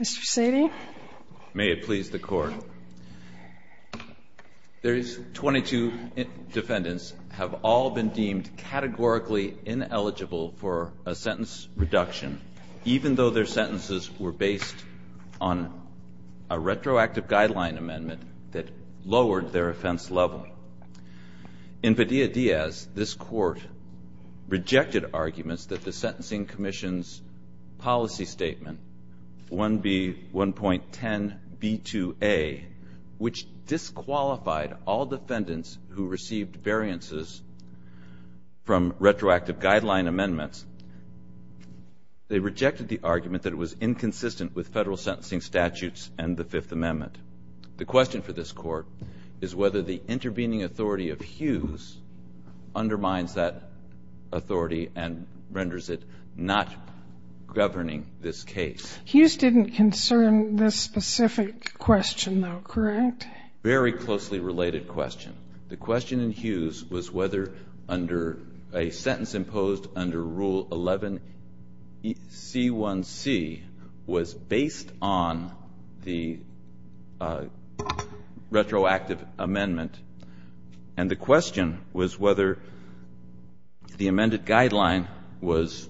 Mr. Sadie. May it please the court. These 22 defendants have all been deemed categorically ineligible for a sentence reduction, even though their sentences were based on a retroactive guideline amendment that lowered their offense level. In Padilla-Diaz, this court rejected arguments that the Sentencing Commission's policy statement, 1B1.10b2a, which disqualified all defendants who received variances from retroactive guideline amendments, they rejected the argument that it was inconsistent with federal sentencing statutes and the Fifth Amendment. The question for this court is whether the intervening authority of Hughes undermines that authority and renders it not governing this case. Hughes didn't concern this specific question, though, correct? Very closely related question. The question in Hughes was whether a sentence imposed under Rule 11c1c was based on the retroactive amendment. And the question was whether the amended guideline was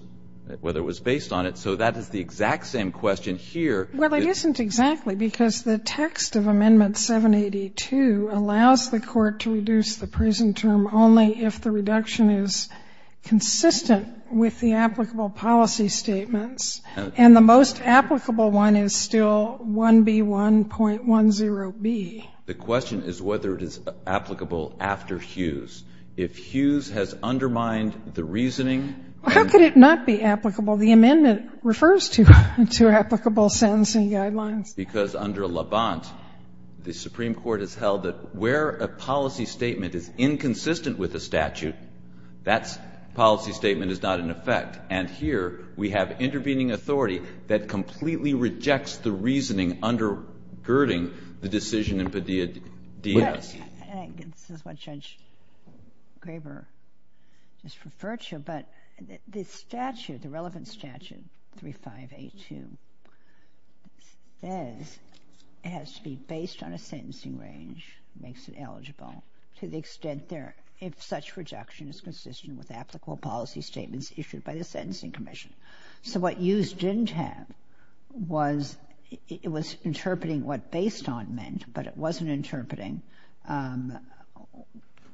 based on it. So that is the exact same question here. Well, it isn't exactly, because the text of Amendment 782 allows the court to reduce the prison term only if the reduction is consistent with the applicable policy statements. And the most applicable one is still 1B1.10b. The question is whether it is applicable after Hughes. If Hughes has undermined the reasoning and How could it not be applicable? The amendment refers to applicable sentencing guidelines. Because under Levant, the Supreme Court has held that where a policy statement is inconsistent with a statute, that policy statement is not in effect. And here, we have intervening authority that completely rejects the reasoning undergirding the decision in Padilla D.S. This is what Judge Graber just referred to. But the relevant statute, 3582, says it has to be based on a sentencing range, makes it eligible, to the extent there, if such reduction is consistent with applicable policy statements issued by the Sentencing Commission. So what Hughes didn't have was, it was interpreting what based on meant, but it wasn't interpreting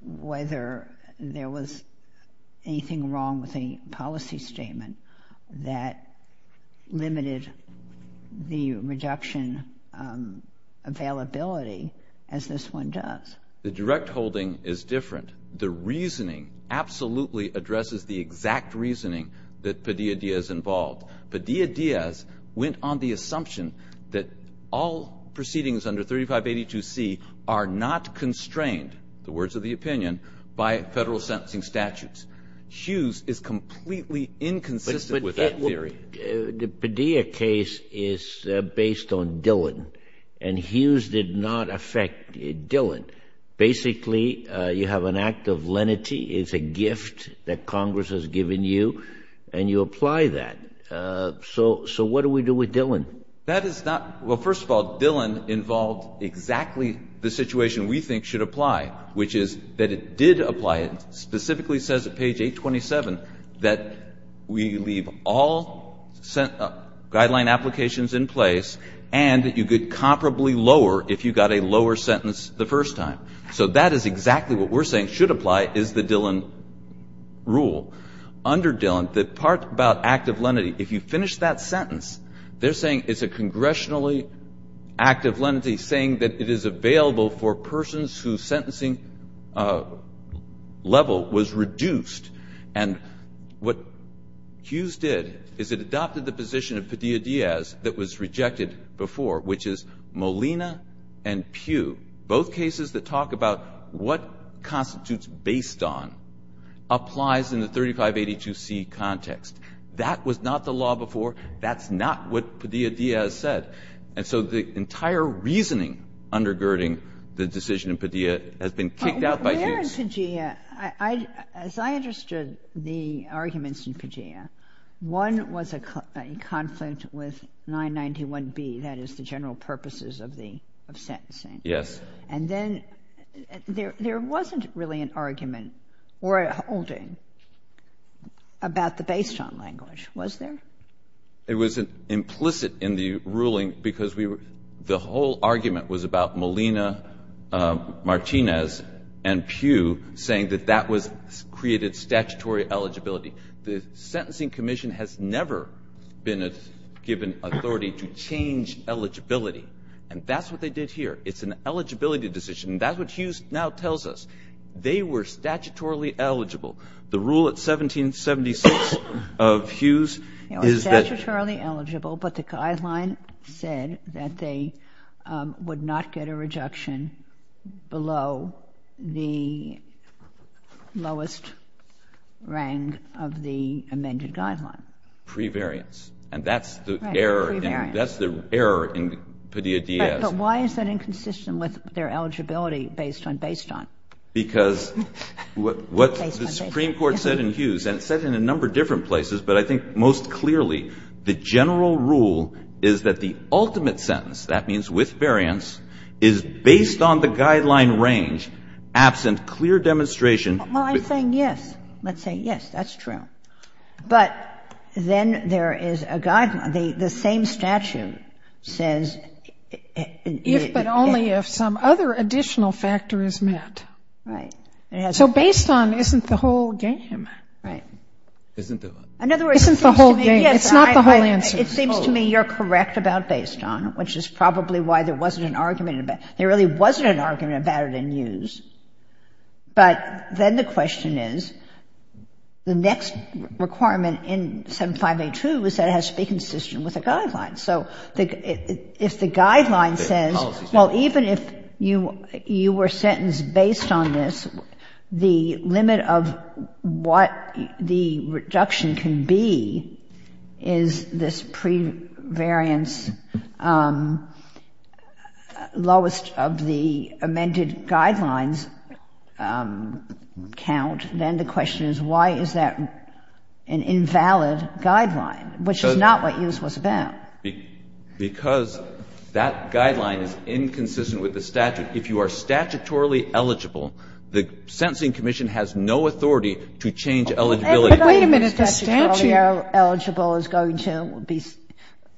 whether there was anything wrong with a policy statement that limited the reduction availability, as this one does. The direct holding is different. The reasoning absolutely addresses the exact reasoning that Padilla D.S. involved. Padilla D.S. went on the assumption that all proceedings under 3582C are not constrained, the words of the opinion, by federal sentencing statutes. Hughes is completely inconsistent with that theory. The Padilla case is based on Dillon. And Hughes did not affect Dillon. Basically, you have an act of lenity. It's a gift that Congress has given you. And you apply that. So what do we do with Dillon? That is not, well, first of all, Dillon involved exactly the situation we think should apply, which is that it did apply it. Specifically, it says at page 827 that we leave all guideline applications in place and that you could comparably lower if you got a lower sentence the first time. So that is exactly what we're saying should apply is the Dillon rule. Under Dillon, the part about act of lenity, if you finish that sentence, they're saying it's a congressionally act of lenity, saying that it is available for persons whose sentencing level was reduced. And what Hughes did is it adopted the position of Padilla D.S. that was rejected before, which is Molina and Pugh. Both cases that talk about what constitutes based on applies in the 3582C context. That was not the law before. That's not what Padilla D.S. said. And so the entire reasoning under Girding, the decision in Padilla, has been kicked out by Hughes. But there in Padilla, as I understood the arguments in Padilla, one was a conflict with 991B, that is the general purposes of the sentencing. Yes. And then there wasn't really an argument or a holding about the based on language, was there? It was implicit in the ruling because the whole argument was about Molina, Martinez, and Pugh saying that that created statutory eligibility. The Sentencing Commission has never been given authority to change eligibility. And that's what they did here. It's an eligibility decision. That's what Hughes now tells us. They were statutorily eligible. The rule at 1776 of Hughes is that- Statutorily eligible, but the guideline said that they would not get a rejection below the lowest rang of the amended guideline. Pre-variance. And that's the error in Padilla D.S. But why is that inconsistent with their eligibility based on based on? Because what the Supreme Court said in Hughes, and it said in a number of different places, but I think most clearly, the general rule is that the ultimate sentence, that means with variance, is based on the guideline range, absent clear demonstration. Well, I'm saying yes. Let's say yes, that's true. But then there is a guideline. The same statute says- If but only if some other additional factor is met. Right. So based on isn't the whole game. Right. Isn't the whole game. It's not the whole answer. It seems to me you're correct about based on, which is probably why there wasn't an argument about it. There really wasn't an argument about it in Hughes. But then the question is, the next requirement in 7582 is that it has to be consistent with a guideline. So if the guideline says, well, even if you were sentenced based on this, the limit of what the reduction can be is this pre-variance lowest of the amended guidelines count, then the question is, why is that an invalid guideline, which is not what Hughes was about? Because that guideline is inconsistent with the statute. If you are statutorily eligible, the sentencing commission But wait a minute. The statute- If the statute says you're eligible, it's going to be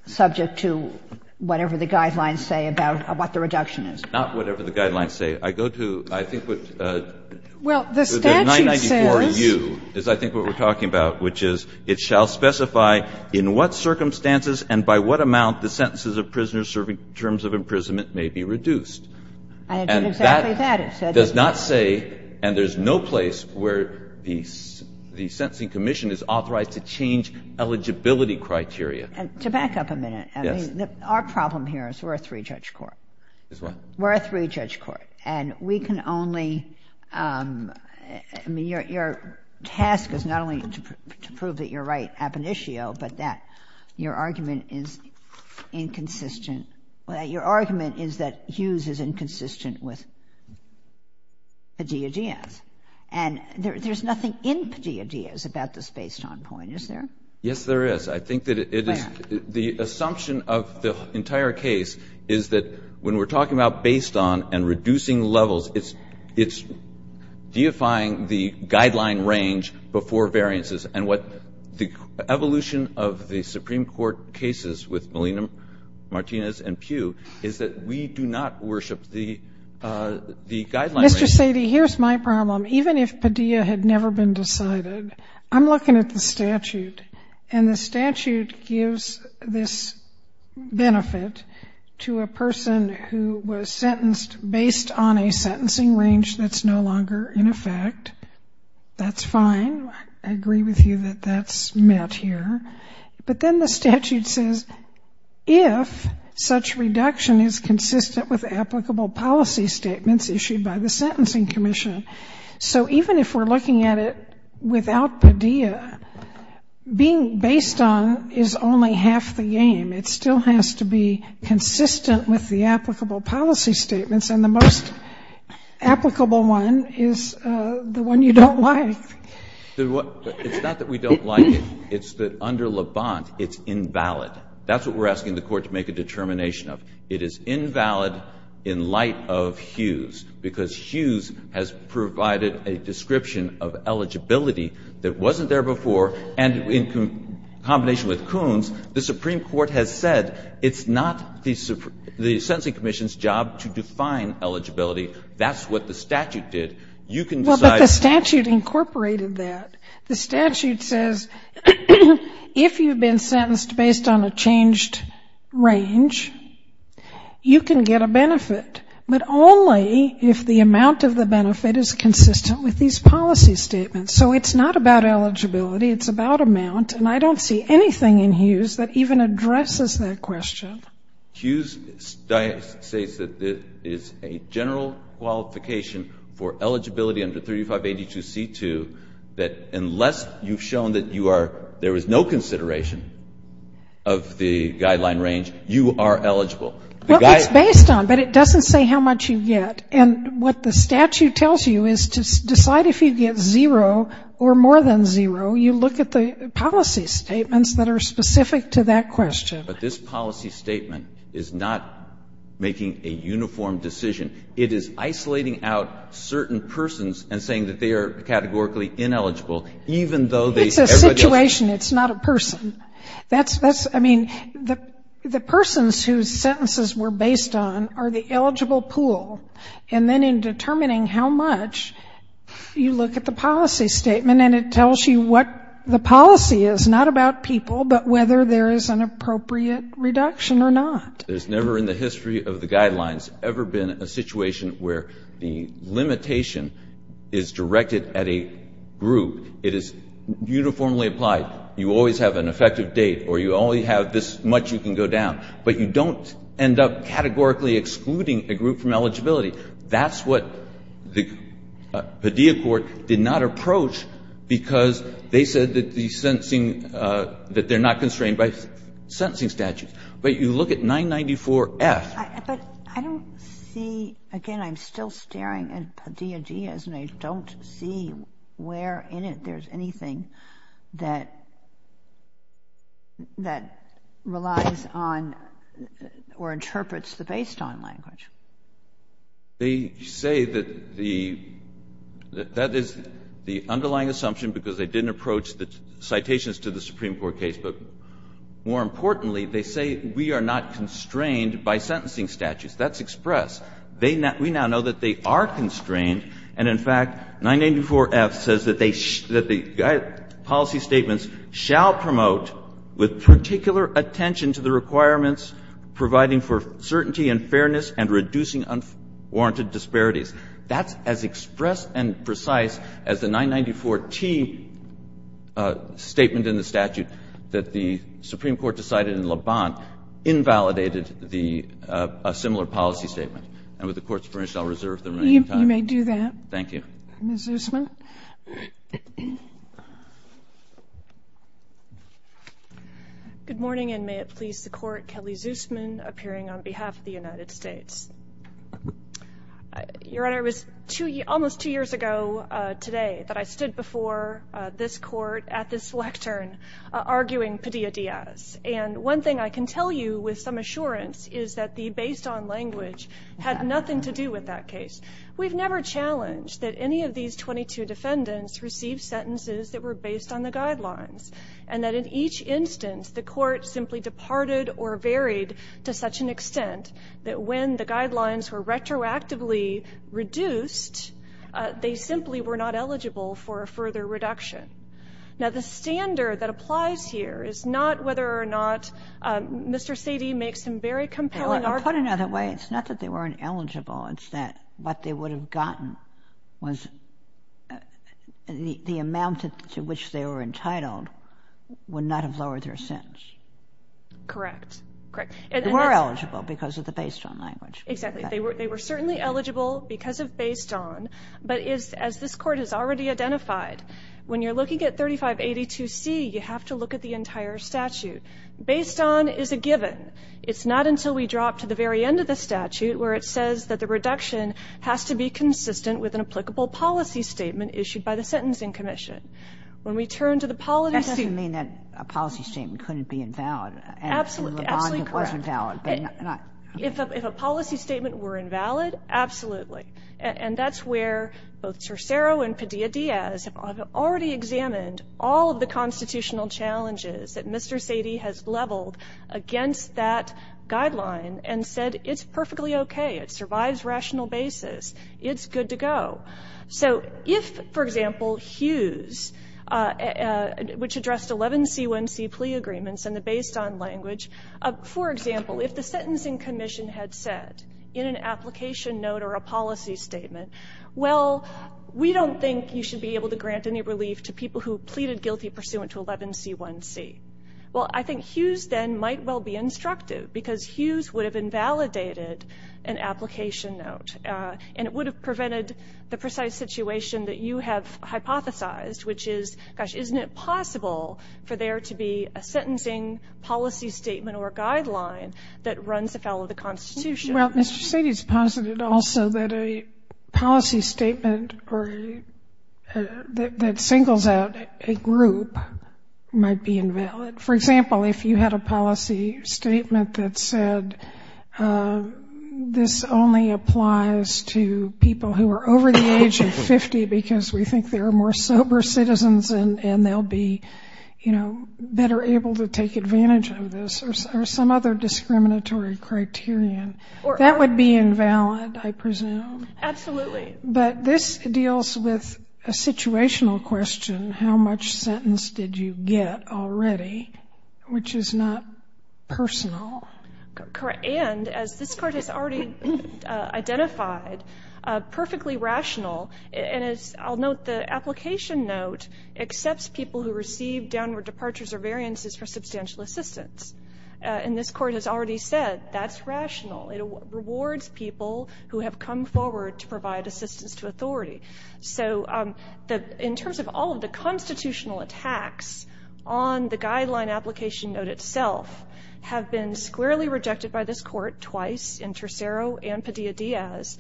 subject to whatever the guidelines say about what the reduction is. Not whatever the guidelines say. I go to, I think, what- Well, the statute says- The 994U is, I think, what we're talking about, which is, it shall specify in what circumstances and by what amount the sentences of prisoners serving terms of imprisonment may be reduced. And that does not say, and there's no place where the sentencing commission is authorized to change eligibility criteria. To back up a minute, our problem here is we're a three-judge court. Is what? We're a three-judge court. And we can only, I mean, your task is not only to prove that you're right ab initio, but that your argument is inconsistent. Your argument is that Hughes is inconsistent with Padilla-Diaz. And there's nothing in Padilla-Diaz about this based on point, is there? Yes, there is. I think that it is- Why not? The assumption of the entire case is that when we're talking about based on and reducing levels, it's deifying the guideline range before variances. And what the evolution of the Supreme Court cases with Molina, Martinez, and Pugh is that we do not worship the guideline range. Mr. Sady, here's my problem. Even if Padilla had never been decided, I'm looking at the statute. And the statute gives this benefit to a person who was sentenced based on a sentencing range that's no longer in effect. That's fine. I agree with you that that's met here. But then the statute says, if such reduction is consistent with applicable policy statements issued by the Sentencing Commission. So even if we're looking at it without Padilla, being based on is only half the game. It still has to be consistent with the applicable policy statements. And the most applicable one is the one you don't like. It's not that we don't like it. It's that under LeBant, it's invalid. That's what we're asking the court to make a determination of. It is invalid in light of Hughes. Because Hughes has provided a description of eligibility that wasn't there before. And in combination with Coons, the Supreme Court has said it's not the Sentencing Commission's job to define eligibility. That's what the statute did. You can decide. But the statute incorporated that. The statute says, if you've been sentenced based on a changed range, you can get a benefit. But only if the amount of the benefit is consistent with these policy statements. So it's not about eligibility. It's about amount. And I don't see anything in Hughes that even addresses that question. Hughes states that it is a general qualification for eligibility under 3582C2, that unless you've shown that there is no consideration of the guideline range, you are eligible. Well, it's based on. But it doesn't say how much you get. And what the statute tells you is to decide if you get zero or more than zero, you look at the policy statements that are specific to that question. But this policy statement is not making a uniform decision. It is isolating out certain persons and saying that they are categorically ineligible, even though they say everybody else is. It's a situation. It's not a person. I mean, the persons whose sentences were based on are the eligible pool. And then in determining how much, you look at the policy statement. And it tells you what the policy is, not about people, but whether there is an appropriate reduction or not. There's never in the history of the guidelines ever been a situation where the limitation is directed at a group. It is uniformly applied. You always have an effective date, or you only have this much you can go down. But you don't end up categorically excluding a group from eligibility. That's what the Padilla court did not approach because they said that the sentencing, that they're not constrained by sentencing statutes. But you look at 994F. But I don't see, again, I'm still staring at Padilla-Diaz. And I don't see where in it there's anything that relies on or interprets the based on language. They say that that is the underlying assumption because they didn't approach the citations to the Supreme Court case. But more importantly, they say we are not That's express. We now know that they are constrained. And in fact, 984F says that the policy statements shall promote with particular attention to the requirements providing for certainty and fairness and reducing unwarranted disparities. That's as express and precise as the 994T statement in the statute that the Supreme Court decided in Le Bon invalidated a similar policy statement. And with the court's permission, I'll reserve the remaining time. You may do that. Thank you. Ms. Zusman. Good morning, and may it please the court, Kelly Zusman, appearing on behalf of the United States. Your Honor, it was almost two years ago today that I stood before this court at this lectern arguing Padilla-Diaz. And one thing I can tell you with some assurance is that the based-on language had nothing to do with that case. We've never challenged that any of these 22 defendants receive sentences that were based on the guidelines and that in each instance, the court simply departed or varied to such an extent that when the guidelines were retroactively reduced, they simply were not eligible for a further reduction. Now, the standard that applies here is not whether or not Mr. Sadie makes some very compelling argument. Put another way, it's not that they weren't eligible. It's that what they would have gotten was the amount to which they were entitled would not have lowered their sentence. Correct. Correct. They were eligible because of the based-on language. Exactly. They were certainly eligible because of based-on. But as this court has already identified, when you're looking at 3582C, you have to look at the entire statute. Based-on is a given. It's not until we drop to the very end of the statute where it says that the reduction has to be consistent with an applicable policy statement issued by the Sentencing Commission. When we turn to the policy statement. That doesn't mean that a policy statement couldn't be invalid. Absolutely. Absolutely correct. And the bond was invalid. If a policy statement were invalid, absolutely. And that's where both Cercero and Padilla-Diaz have already examined all of the constitutional challenges that Mr. Sady has leveled against that guideline and said, it's perfectly OK. It survives rational basis. It's good to go. So if, for example, Hughes, which addressed 11C1C plea agreements and the based-on language, for example, if the Sentencing Commission had said in an application note or a policy statement, well, we don't think you should be able to grant any relief to people who pleaded guilty pursuant to 11C1C. Well, I think Hughes then might well be instructive because Hughes would have invalidated an application note. And it would have prevented the precise situation that you have hypothesized, which is, gosh, isn't it possible for there to be a sentencing policy statement or guideline that runs afoul of the Constitution? Well, Mr. Sady has posited also that a policy statement that singles out a group might be invalid. For example, if you had a policy statement that said, this only applies to people who are over the age of 50 because we think they are more sober citizens and they'll be better able to take advantage of this or some other discriminatory criterion, that would be invalid, I presume. Absolutely. But this deals with a situational question, how much sentence did you get already, which is not personal. And as this Court has already identified, perfectly rational. And I'll note the application note accepts people who receive downward departures or variances for substantial assistance. And this Court has already said, that's rational. It rewards people who have come forward to provide assistance to authority. So in terms of all of the constitutional attacks on the guideline application note itself have been squarely rejected by this Court twice in Tercero and Padilla-Diaz.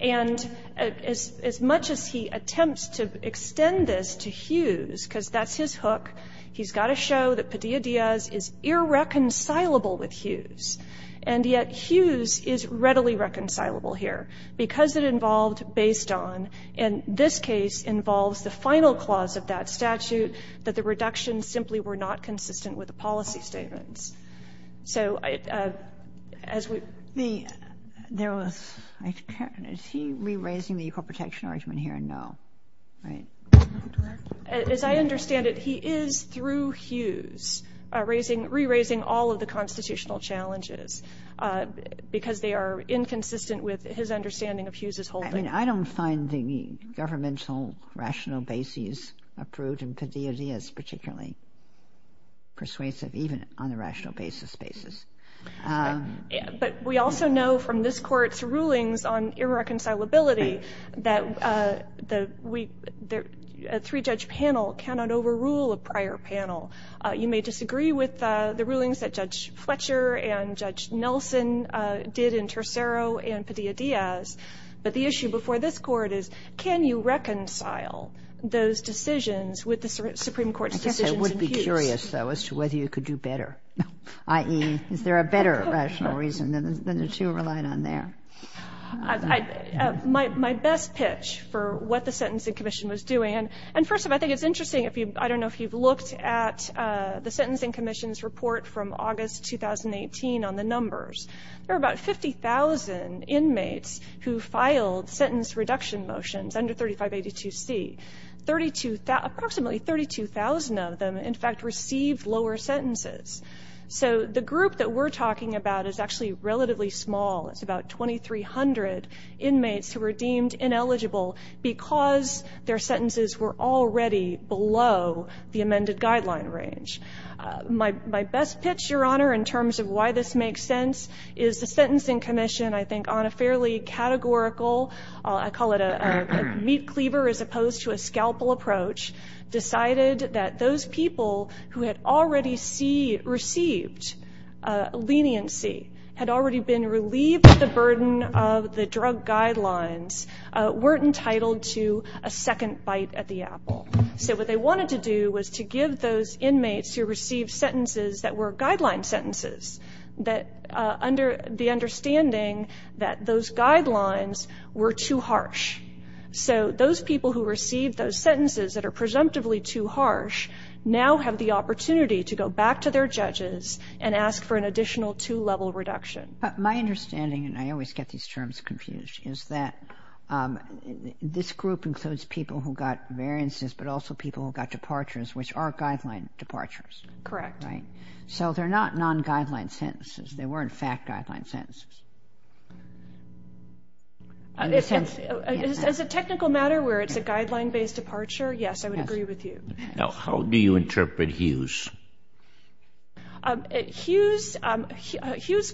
And as much as he attempts to extend this to Hughes, because that's his hook. He's got to show that Padilla-Diaz is irreconcilable with Hughes. And yet, Hughes is readily reconcilable here because it involved based on, and this case involves the final clause of that statute, that the reductions simply were not consistent with the policy statements. So as we. The, there was, is he re-raising the equal protection argument here? No. Right. As I understand it, he is, through Hughes, raising, re-raising all of the constitutional challenges because they are inconsistent with his understanding of Hughes's holding. I don't find the governmental rational basis approved in Padilla-Diaz particularly persuasive, even on the rational basis basis. But we also know from this Court's rulings on irreconcilability that the three-judge panel cannot overrule a prior panel. You may disagree with the rulings that Judge Fletcher and Judge Nelson did in Tercero and Padilla-Diaz. But the issue before this Court is, can you reconcile those decisions with the Supreme Court's decisions in Hughes? I guess I would be curious, though, as to whether you could do better, i.e., is there a better rational reason than the two relied on there? My best pitch for what the Sentencing Commission was doing, and first of all, I think it's interesting. I don't know if you've looked at the Sentencing Commission's report from August 2018 on the numbers. There are about 50,000 inmates who filed sentence reduction motions under 3582C. Approximately 32,000 of them, in fact, received lower sentences. So the group that we're talking about is actually relatively small. It's about 2,300 inmates who were deemed ineligible because their sentences were already below the amended guideline range. My best pitch, Your Honor, in terms of why this makes sense, is the Sentencing Commission, I think, on a fairly categorical, I call it a meat cleaver as opposed to a scalpel approach, decided that those people who had already received leniency, had already been relieved of the burden of the drug guidelines, weren't entitled to a second bite at the apple. So what they wanted to do was to give those inmates who received sentences that were guideline sentences, that under the understanding that those guidelines were too harsh. So those people who received those sentences that were presumptively too harsh, now have the opportunity to go back to their judges and ask for an additional two-level reduction. My understanding, and I always get these terms confused, is that this group includes people who got variances, but also people who got departures, which are guideline departures. Correct. So they're not non-guideline sentences. They were, in fact, guideline sentences. In the sense, as a technical matter where it's a guideline-based departure, yes, I would agree with you. Yes. Now, how do you interpret Hughes? Hughes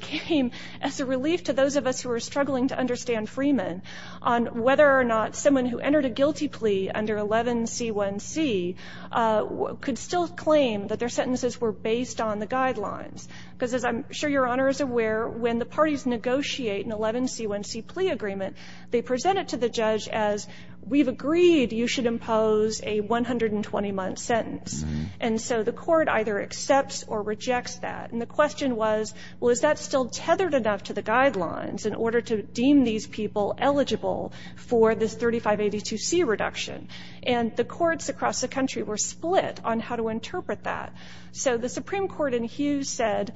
came as a relief to those of us who were struggling to understand Freeman on whether or not someone who entered a guilty plea under 11 C1C could still claim that their sentences were based on the guidelines. Because as I'm sure Your Honor is aware, when the parties negotiate an 11 C1C plea agreement, they present it to the judge as, we've agreed you should impose a 120-month sentence. And so the court either accepts or rejects that. And the question was, well, is that still tethered enough to the guidelines in order to deem these people eligible for this 3582C reduction? And the courts across the country were split on how to interpret that. So the Supreme Court in Hughes said,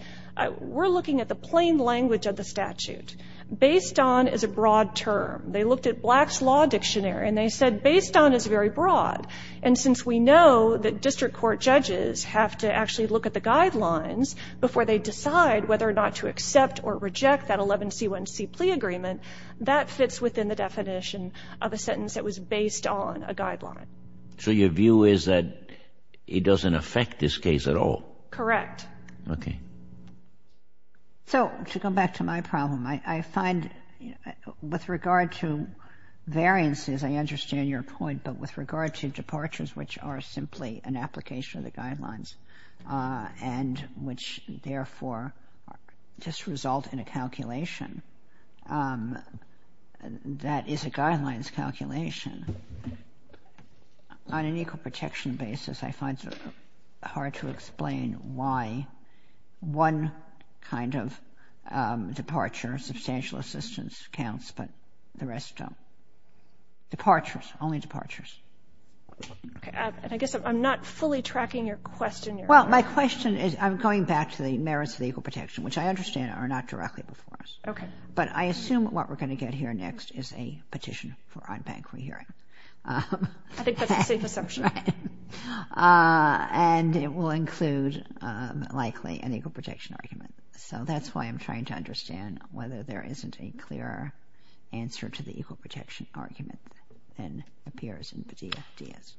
we're looking at the plain language of the statute. Based on is a broad term. They looked at Black's Law Dictionary, and they said based on is very broad. And since we know that district court judges have to actually look at the guidelines before they decide whether or not to accept or reject that 11 C1C plea agreement, that fits within the definition of a sentence that was based on a guideline. So your view is that it doesn't affect this case at all? Correct. OK. So to come back to my problem, I find with regard to variances, I understand your point. But with regard to departures, which are simply an application of the guidelines, and which therefore just result in a calculation that is a guidelines calculation, on an equal protection basis, I find it hard to explain why one kind of departure, substantial assistance counts, but the rest don't. Departures, only departures. And I guess I'm not fully tracking your question. Well, my question is, I'm going back to the merits of the equal protection, which I understand are not directly before us. But I assume what we're going to get here next is a petition for unbanked re-hearing. I think that's a safe assumption. And it will include, likely, an equal protection argument. So that's why I'm trying to understand whether there isn't a clear answer to the equal protection argument that appears in the DS.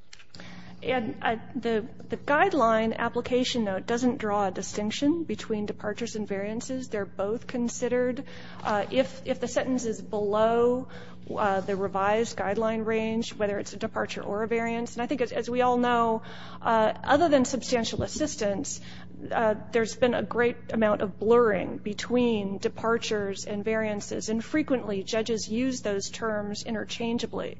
And the guideline application, though, it doesn't draw a distinction between departures and variances. They're both considered. If the sentence is below the revised guideline range, whether it's a departure or a variance. And I think, as we all know, other than substantial assistance, there's been a great amount of blurring between departures and variances. And frequently, judges use those terms interchangeably.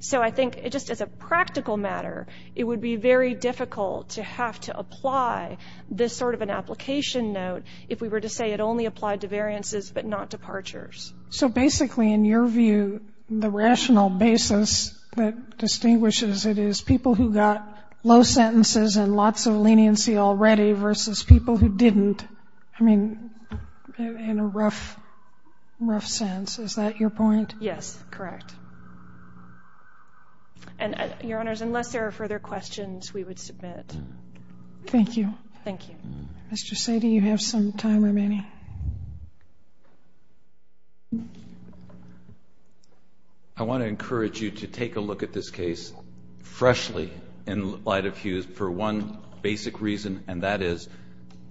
So I think, just as a practical matter, it would be very difficult to have to apply this sort of an application note if we were to say it only applied to variances, but not departures. So basically, in your view, the rational basis that distinguishes it is people who got low sentences and lots of leniency already versus people who didn't. I mean, in a rough sense. Is that your point? Yes, correct. And, Your Honors, unless there are further questions, we would submit. Thank you. Thank you. Mr. Satie, you have some time remaining. I want to encourage you to take a look at this case freshly in light of Hughes for one basic reason, and that is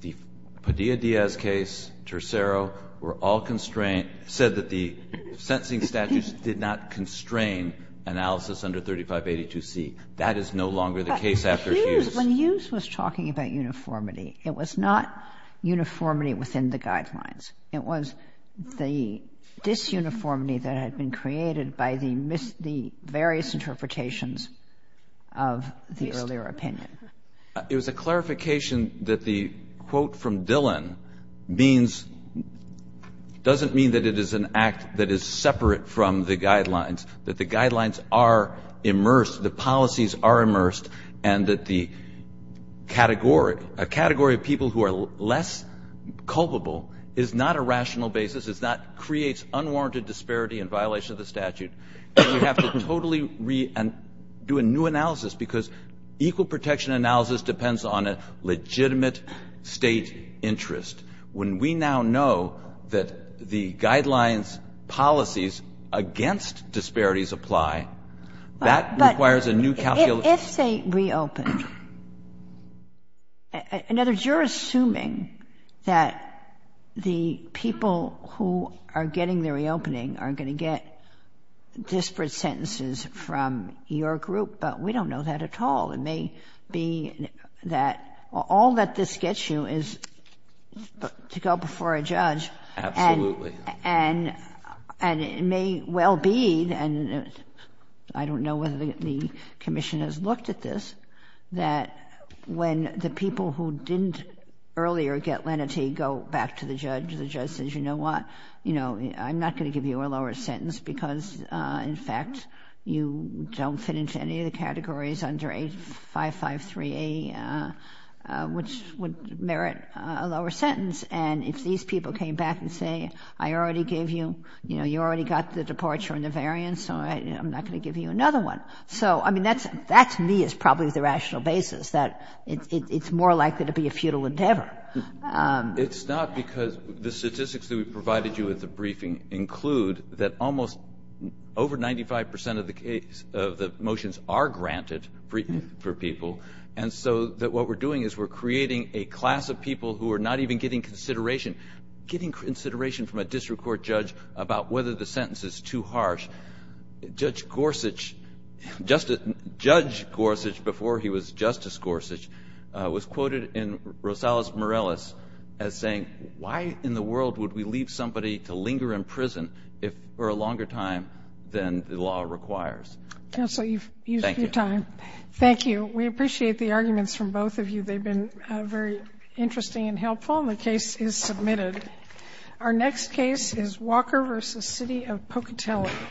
the Padilla-Diaz case, Tercero, were all constrained, said that the sentencing statutes did not constrain analysis under 3582C. That is no longer the case after Hughes. When Hughes was talking about uniformity, it was not uniformity within the guidelines. It was the disuniformity that had been created by the various interpretations of the earlier opinion. It was a clarification that the quote from Dillon doesn't mean that it is an act that is separate from the guidelines, that the guidelines are immersed, the policies are immersed, and that a category of people who are less culpable is not a rational basis. It's not creates unwarranted disparity in violation of the statute. You have to totally do a new analysis because equal protection analysis depends on a legitimate state interest. When we now know that the guidelines policies against disparities apply, that requires a new calculation. If they reopen, in other words, you're who are getting the reopening are going to get disparate sentences from your group, but we don't know that at all. It may be that all that this gets you is to go before a judge and it may well be, and I don't know whether the commission has looked at this, that when the people who didn't earlier get lenity go back to the judge. The judge says, you know what, I'm not going to give you a lower sentence because, in fact, you don't fit into any of the categories under 8553A, which would merit a lower sentence. And if these people came back and say, I already gave you, you already got the departure and the variance, so I'm not going to give you another one. So I mean, that to me is probably the rational basis that it's more likely to be a futile endeavor. It's not because the statistics that we provided you at the briefing include that almost over 95% of the motions are granted for people. And so what we're doing is we're creating a class of people who are not even getting consideration, getting consideration from a district court judge about whether the sentence is too harsh. Judge Gorsuch, before he was Justice Gorsuch, was quoted in Rosales-Morales as saying, why in the world would we leave somebody to linger in prison for a longer time than the law requires? Counsel, you've used your time. Thank you. We appreciate the arguments from both of you. They've been very interesting and helpful. And the case is submitted. Our next case is Walker v. City of Pocatello.